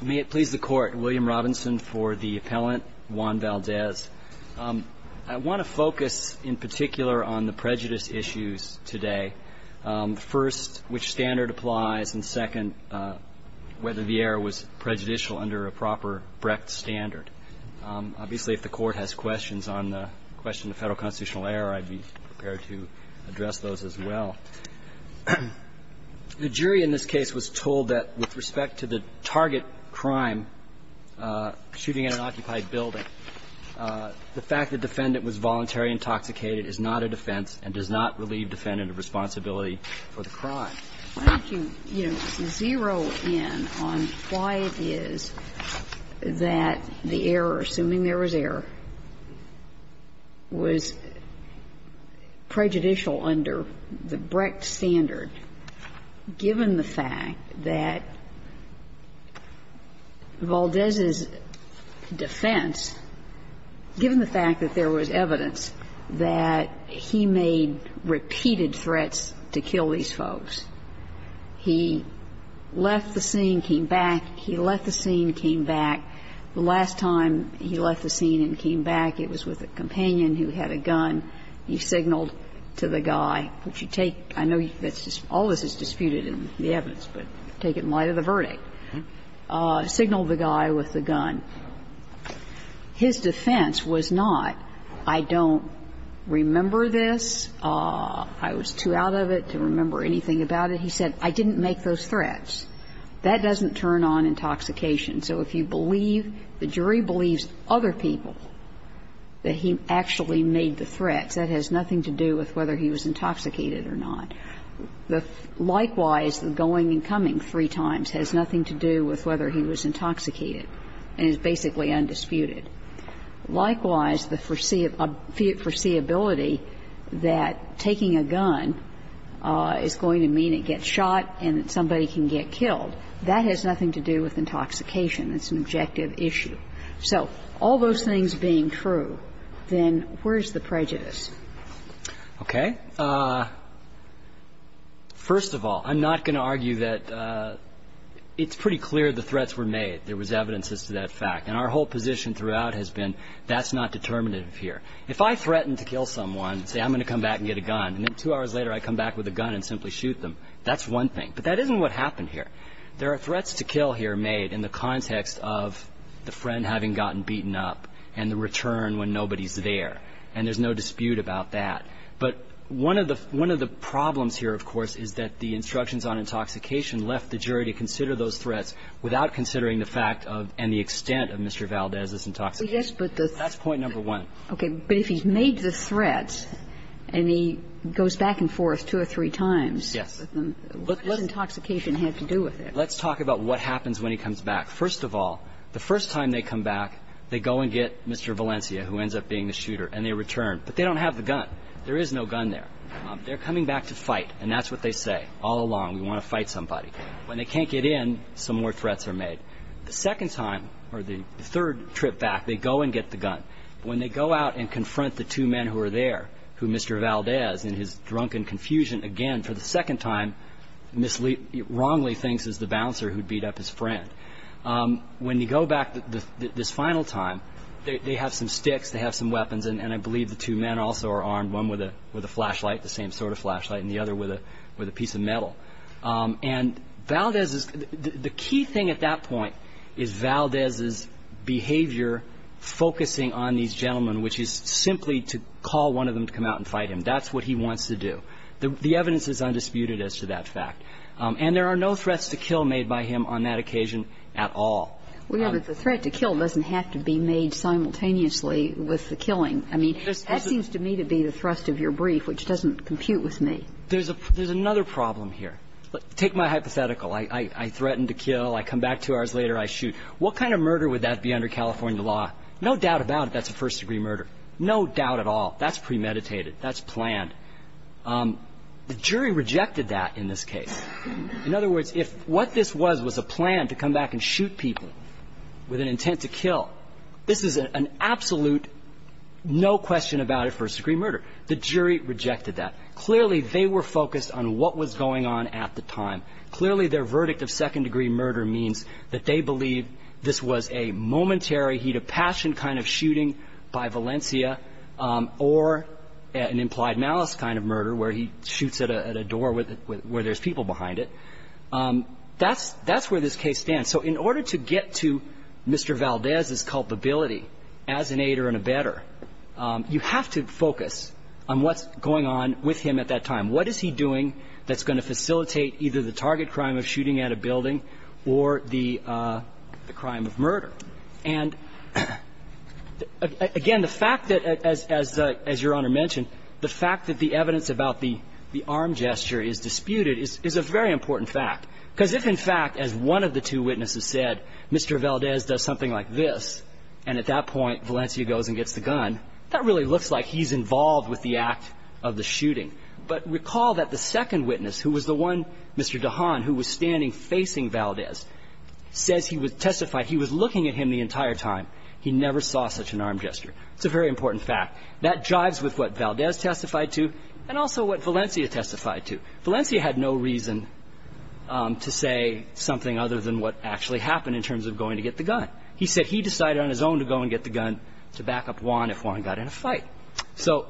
May it please the Court, William Robinson for the appellant Juan Valdez. I want to focus in particular on the prejudice issues today. First, which standard applies, and second, whether the error was prejudicial under a proper Brecht standard. Obviously, if the Court has questions on the question of federal constitutional error, I'd be prepared to address those as well. The jury in this case was told that, with respect to the target crime, shooting at an occupied building, the fact the defendant was voluntary intoxicated is not a defense and does not relieve defendant of responsibility for the crime. I think you zero in on why it is that the error, assuming there was error, was prejudicial under the Brecht standard, given the fact that Valdez's defense, given the fact that there was evidence that he made repeated threats to kill these folks. He left the scene, came back. He left the scene, came back. The last time he left the scene and came back, it was with a companion who had a gun. He signaled to the guy, which you take – I know all of this is disputed in the evidence, but take it in light of the verdict. Signaled the guy with the gun. His defense was not, I don't remember this, I was too out of it to remember anything about it. He said, I didn't make those threats. That doesn't turn on intoxication. So if you believe – the jury believes And if you don't believe that it was other people that he actually made the threats, that has nothing to do with whether he was intoxicated or not. Likewise, the going and coming three times has nothing to do with whether he was intoxicated and is basically undisputed. Likewise, the foreseeability that taking a gun is going to mean it gets shot and that somebody can get killed, that has nothing to do with intoxication. It's an objective issue. So all those things being true, then where's the prejudice? Okay. First of all, I'm not going to argue that – it's pretty clear the threats were made. There was evidence as to that fact. And our whole position throughout has been that's not determinative here. If I threaten to kill someone and say, I'm going to come back and get a gun, and then two hours later I come back with a gun and I simply shoot them, that's one thing. But that isn't what happened here. There are threats to kill here made in the context of the friend having gotten beaten up and the return when nobody's there. And there's no dispute about that. But one of the – one of the problems here, of course, is that the instructions on intoxication left the jury to consider those threats without considering the fact of and the extent of Mr. Valdez's intoxication. Well, yes, but the – That's point number one. Okay. But if he's made the threats and he goes back and forth two or three times with them, what does intoxication have to do with it? Let's talk about what happens when he comes back. First of all, the first time they come back, they go and get Mr. Valencia, who ends up being the shooter, and they return. But they don't have the gun. There is no gun there. They're coming back to fight, and that's what they say all along. We want to fight somebody. When they can't get in, some more threats are made. The second time, or the third trip back, they go and get the gun. When they go out and confront the two men who are there, who Mr. Valdez, in his drunken confusion, again, for the second time, wrongly thinks is the bouncer who beat up his friend. When they go back this final time, they have some sticks, they have some weapons, and I believe the two men also are armed, one with a flashlight, the same sort of flashlight, and the other with a piece of metal. And Valdez is – the key thing at that point is Valdez's behavior focusing on these gentlemen, which is simply to call one of them to come out and fight him. That's what he wants to do. The evidence is undisputed as to that fact. And there are no threats to kill made by him on that occasion at all. Well, yeah, but the threat to kill doesn't have to be made simultaneously with the killing. I mean, that seems to me to be the thrust of your brief, which doesn't compute with me. There's a – there's another problem here. Take my hypothetical. I threaten to kill. Two hours later, I shoot. What kind of murder would that be under California law? No doubt about it, that's a first-degree murder. No doubt at all. That's premeditated. That's planned. The jury rejected that in this case. In other words, if what this was was a plan to come back and shoot people with an intent to kill, this is an absolute no question about it first-degree murder. The jury rejected that. Clearly, they were focused on what was going on at the time. Clearly, their verdict of second-degree murder means that they believe this was a momentary heat of passion kind of shooting by Valencia or an implied malice kind of murder where he shoots at a door where there's people behind it. That's where this case stands. So in order to get to Mr. Valdez's culpability as an aider and a better, you have to focus on what's going on with him at that time. What is he doing that's going to facilitate either the target crime of shooting at a building or the crime of murder? And again, the fact that, as Your Honor mentioned, the fact that the evidence about the arm gesture is disputed is a very important fact. Because if, in fact, as one of the two witnesses said, Mr. Valdez does something like this, and at that point Valencia goes and gets the gun, that really looks like he's involved with the act of the shooting. But recall that the second witness, who was the one, Mr. DeHaan, who was standing facing Valdez, says he testified he was looking at him the entire time. He never saw such an arm gesture. It's a very important fact. That jives with what Valdez testified to and also what Valencia testified to. Valencia had no reason to say something other than what actually happened in terms of going to get the gun. He said he decided on his own to go and get the gun to back up Juan if Juan got in a fight. So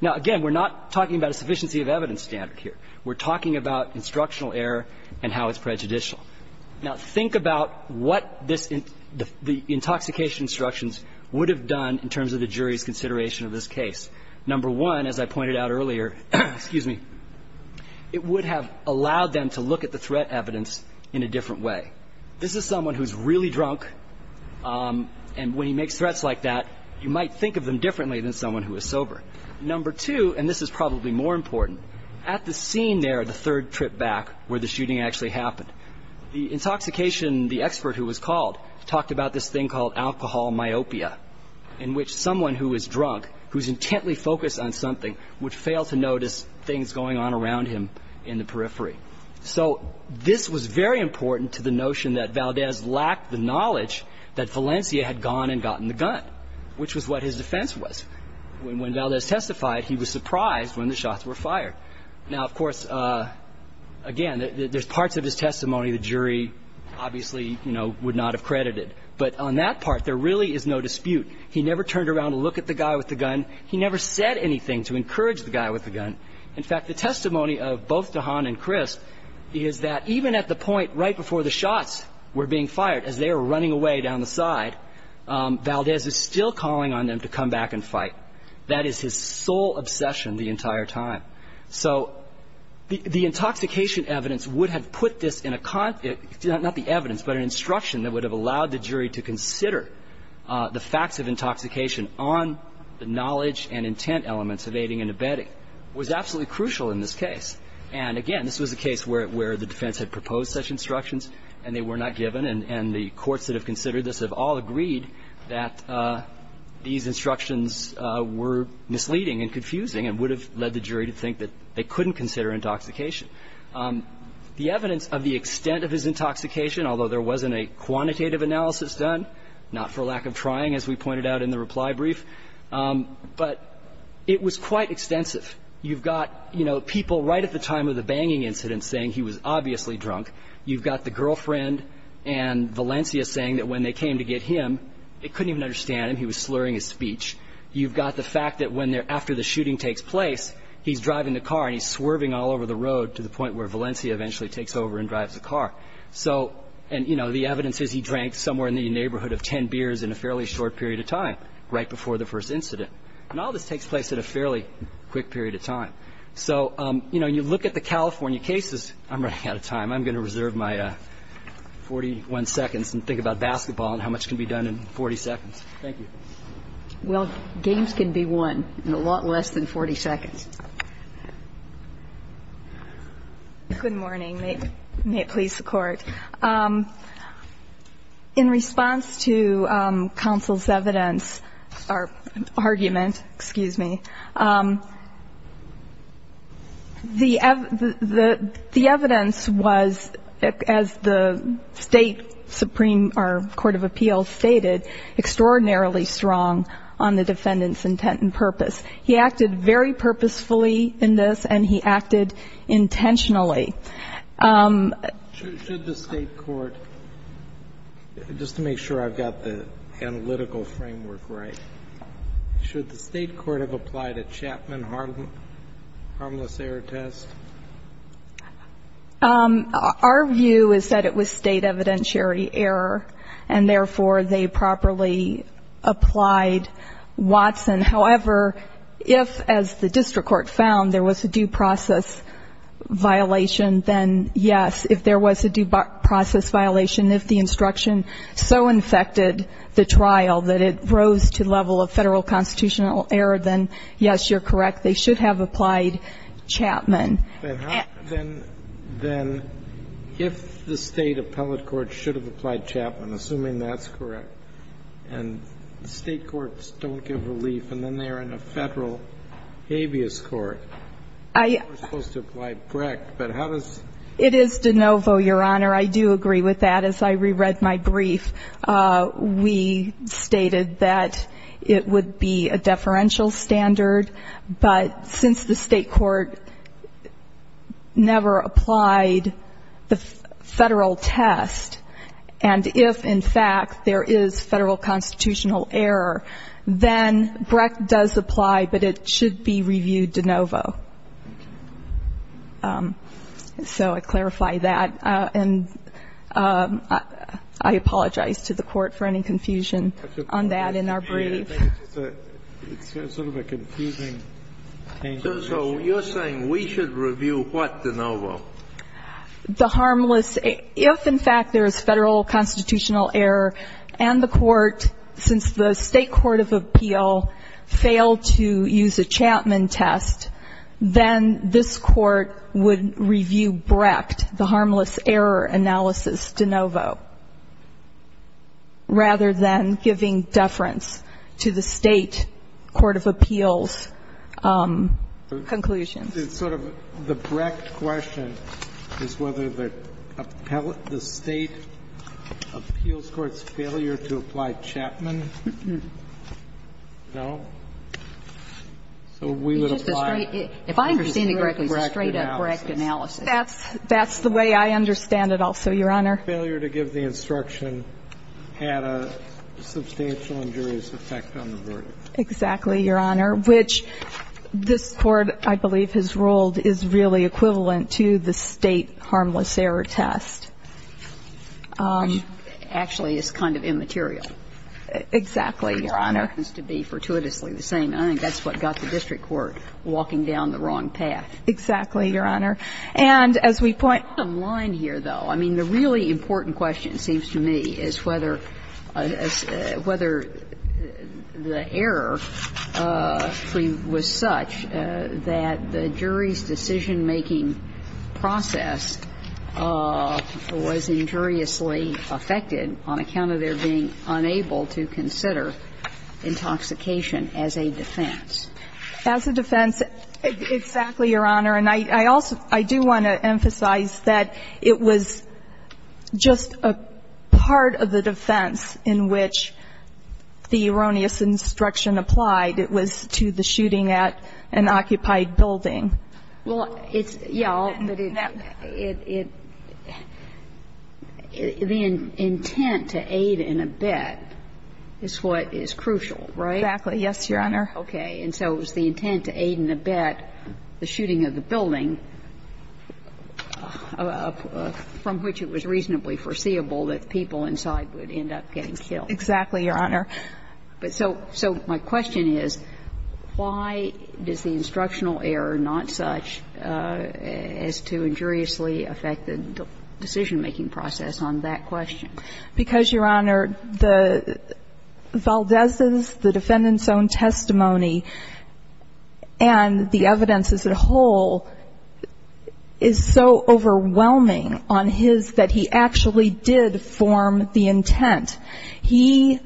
now, again, we're not talking about a sufficiency of evidence standard here. We're talking about instructional error and how it's prejudicial. Now, think about what this intoxication instructions would have done in terms of the jury's consideration of this case. Number one, as I pointed out earlier, excuse me, it would have allowed them to look at the threat evidence in a different way. This is someone who's really drunk, and when he makes threats like that, you might think of them differently than someone who is sober. Number two, and this is probably more important, at the scene there, the third trip back where the shooting actually happened, the intoxication, the expert who was called, talked about this thing called alcohol myopia, in which someone who is drunk, who's intently focused on something, would fail to notice things going on around him in the periphery. So this was very important to the notion that Valdez lacked the knowledge that Valencia had gone and gotten the gun, which was what his defense was. When Valdez testified, he was surprised when the shots were fired. Now, of course, again, there's parts of his testimony the jury obviously, you know, would not have credited. But on that part, there really is no dispute. He never turned around to look at the guy with the gun. He never said anything to encourage the guy with the gun. In fact, the testimony of both DeHaan and Crisp is that even at the point right before the side, Valdez is still calling on them to come back and fight. That is his sole obsession the entire time. So the intoxication evidence would have put this in a con- not the evidence, but an instruction that would have allowed the jury to consider the facts of intoxication on the knowledge and intent elements of aiding and abetting was absolutely crucial in this case. And again, this was a case where the defense had proposed such instructions, and they were not given, and the courts that have considered this have all agreed that these instructions were misleading and confusing and would have led the jury to think that they couldn't consider intoxication. The evidence of the extent of his intoxication, although there wasn't a quantitative analysis done, not for lack of trying, as we pointed out in the reply brief, but it was quite extensive. You've got, you know, people right at the time of the banging incident saying he was obviously drunk. You've got the saying that when they came to get him, they couldn't even understand him. He was slurring his speech. You've got the fact that when they're- after the shooting takes place, he's driving the car, and he's swerving all over the road to the point where Valencia eventually takes over and drives the car. So, and, you know, the evidence is he drank somewhere in the neighborhood of ten beers in a fairly short period of time, right before the first incident. And all this takes place in a fairly quick period of time. So, you know, you look at the California cases- I'm running out of time. I'm going to reserve my 41 seconds and think about basketball and how much can be done in 40 seconds. Thank you. Well, games can be won in a lot less than 40 seconds. Good morning. May it please the Court. In response to counsel's evidence or argument, excuse me, the evidence was, as the State Supreme- or Court of Appeals stated, extraordinarily strong on the defendant's intent and purpose. He acted very purposefully in this, and he acted intentionally. Should the State court- just to make sure I've got the analytical framework right- should the State court have applied a Chapman harmless error test? Our view is that it was State evidentiary error, and therefore they properly applied Watson. However, if, as the district court found, there was a due process violation, then yes. If there was a due process violation, if the instruction so infected the trial that it rose to the level of Federal constitutional error, then yes, you're correct. They should have applied Chapman. Then how- then if the State appellate court should have applied Chapman, assuming that's correct, and State courts don't give relief, and then they are in a Federal habeas court, they're supposed to apply Brecht. But how does- It is de novo, Your Honor. I do agree with that. As I reread my brief, we stated that it would be a deferential standard, but since the State court never applied the Federal test, and if, in fact, there is Federal constitutional error, then Brecht does apply, but it should be reviewed de novo. So I clarify that, and I apologize to the Court for any confusion on that in our brief. It's sort of a confusing change in the issue. So you're saying we should review what de novo? The harmless-if, in fact, there is Federal constitutional error and the Court, since the State court of appeal failed to use a Chapman test, then this Court would review Brecht, the harmless error analysis de novo, rather than giving deference to the State court of appeals conclusions. It's sort of the Brecht question is whether the appellate-the State appeals court's failure to apply Chapman, no, so we would apply- If I understand it correctly, it's a straight-up Brecht analysis. That's the way I understand it also, Your Honor. Failure to give the instruction had a substantial injurious effect on the verdict. Exactly, Your Honor. Which this Court, I believe, has ruled is really equivalent to the State harmless error test. Actually, it's kind of immaterial. Exactly, Your Honor. It happens to be fortuitously the same. I think that's what got the district court walking down the wrong path. Exactly, Your Honor. And as we point online here, though, I mean, the really important question, it seems to me, is whether the error was such that the jury's decision-making process was injuriously affected on account of their being unable to consider intoxication as a defense. As a defense, exactly, Your Honor. And I also do want to emphasize that it was just a part of the defense in which the erroneous instruction applied. It was to the shooting at an occupied building. Well, it's the intent to aid and abet is what is crucial, right? Exactly, yes, Your Honor. Okay. And so it was the intent to aid and abet the shooting of the building, from which it was reasonably foreseeable that people inside would end up getting killed. Exactly, Your Honor. But so my question is, why does the instructional error not such as to injuriously affect the decision-making process on that question? Because, Your Honor, the Valdez's, the defendant's own testimony and the evidence as a whole is so overwhelming on his that he actually did form the intent. He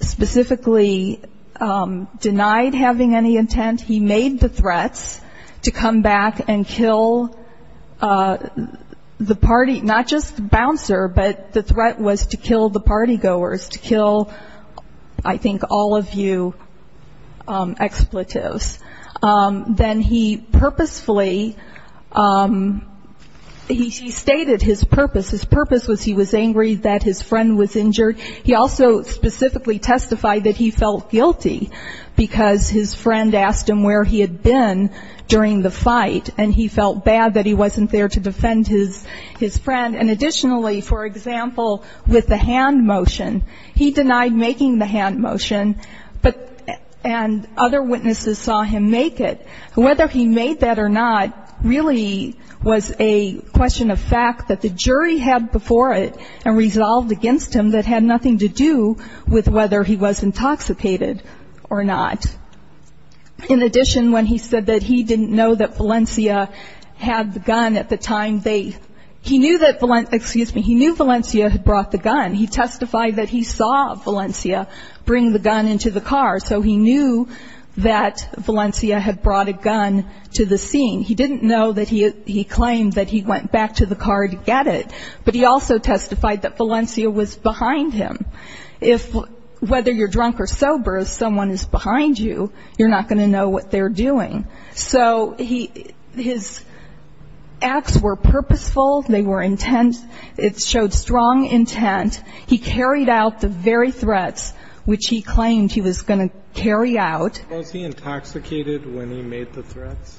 specifically denied having any intent. He made the threats to come back and kill the party, not just the bouncer, but the threat was to kill the party goers, to kill, I think, all of you expletives. Then he purposefully, he stated his purpose. His purpose was he was angry that his friend was injured. He also specifically testified that he felt guilty because his friend asked him where he had been during the fight, and he felt bad that he wasn't there to defend his friend. And additionally, for example, with the hand motion, he denied making the hand motion, and other witnesses saw him make it. And whether he made that or not really was a question of fact that the jury had before it and resolved against him that had nothing to do with whether he was intoxicated or not. In addition, when he said that he didn't know that Valencia had the gun at the time, they, he knew that, excuse me, he knew Valencia had brought the gun. He testified that he saw Valencia bring the gun into the car, so he knew that Valencia had brought a gun to the scene. He didn't know that he claimed that he went back to the car to get it, but he also testified that Valencia was behind him. If whether you're drunk or sober, if someone is behind you, you're not going to know what they're doing. So his acts were purposeful. They were intense. It showed strong intent. He carried out the very threats which he claimed he was going to carry out. Was he intoxicated when he made the threats?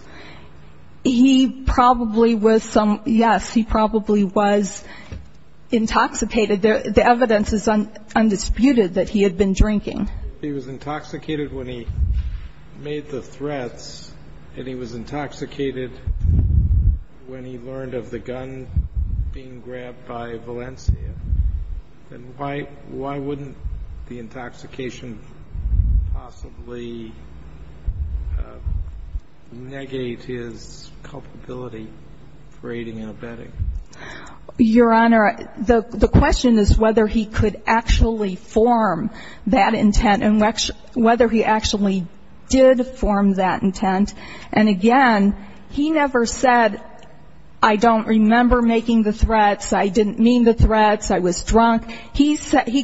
He probably was some, yes, he probably was intoxicated. The evidence is undisputed that he had been drinking. He was intoxicated when he made the threats, and he was intoxicated when he learned of the gun being grabbed by Valencia. Then why wouldn't the intoxication possibly negate his culpability for aiding and abetting? Your Honor, the question is whether he could actually form that intent and whether he actually did form that intent. And again, he never said, I don't remember making the threats, I didn't mean the threats, I was drunk. He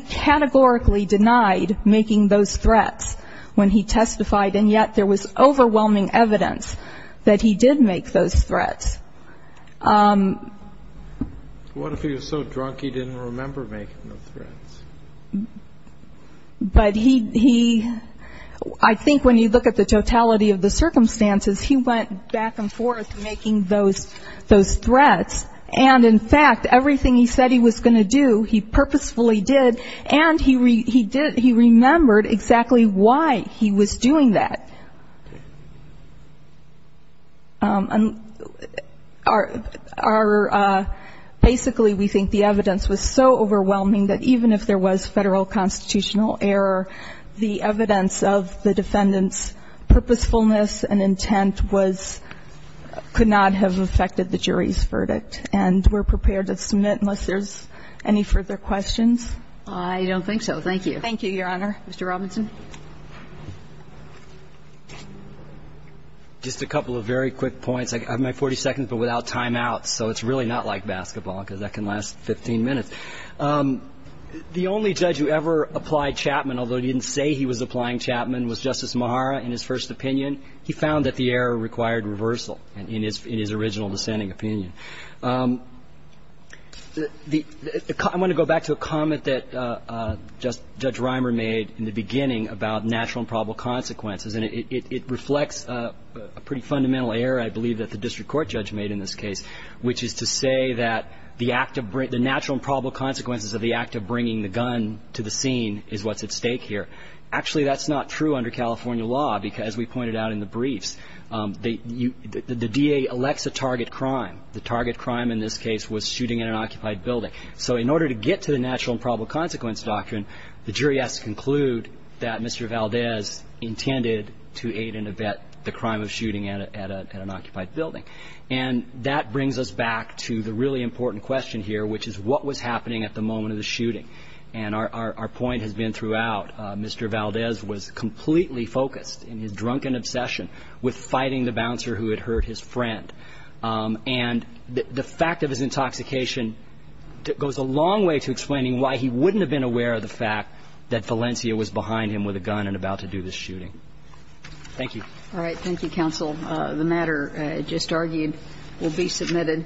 categorically denied making those threats when he testified, and yet there was overwhelming evidence that he did make those threats. What if he was so drunk he didn't remember making the threats? But he, I think when you look at the totality of the circumstances, he went back and forth making those threats. And in fact, everything he said he was going to do, he purposefully did, and he remembered exactly why he was doing that. And our – basically we think the evidence was so overwhelming that even if there was Federal constitutional error, the evidence of the defendant's purposefulness and intent was – could not have affected the jury's verdict. And we're prepared to submit unless there's any further questions. I don't think so. Thank you. Thank you, Your Honor. Mr. Robinson. Just a couple of very quick points. I have my 40 seconds, but without timeout, so it's really not like basketball because that can last 15 minutes. The only judge who ever applied Chapman, although he didn't say he was applying Chapman, was Justice Mahara in his first opinion. He found that the error required reversal in his original dissenting opinion. I want to go back to a comment that Judge Reimer made in the beginning about natural and probable consequences, and it reflects a pretty fundamental error, I believe, that the district court judge made in this case, which is to say that the natural and probable consequences of the act of bringing the gun to the scene is what's at stake here. Actually, that's not true under California law because, as we pointed out in the briefs, the DA elects a target crime. The target crime in this case was shooting in an occupied building. So in order to get to the natural and probable consequence doctrine, the jury has to conclude that Mr. Valdez intended to aid and abet the crime of shooting at an occupied building. And that brings us back to the really important question here, which is what was happening at the moment of the shooting. And our point has been throughout. Mr. Valdez was completely focused in his drunken obsession with fighting the bouncer who had hurt his friend. And the fact of his intoxication goes a long way to explaining why he wouldn't have been aware of the fact that Valencia was behind him with a gun and about to do this shooting. Thank you. All right. Thank you, counsel. The matter just argued will be submitted.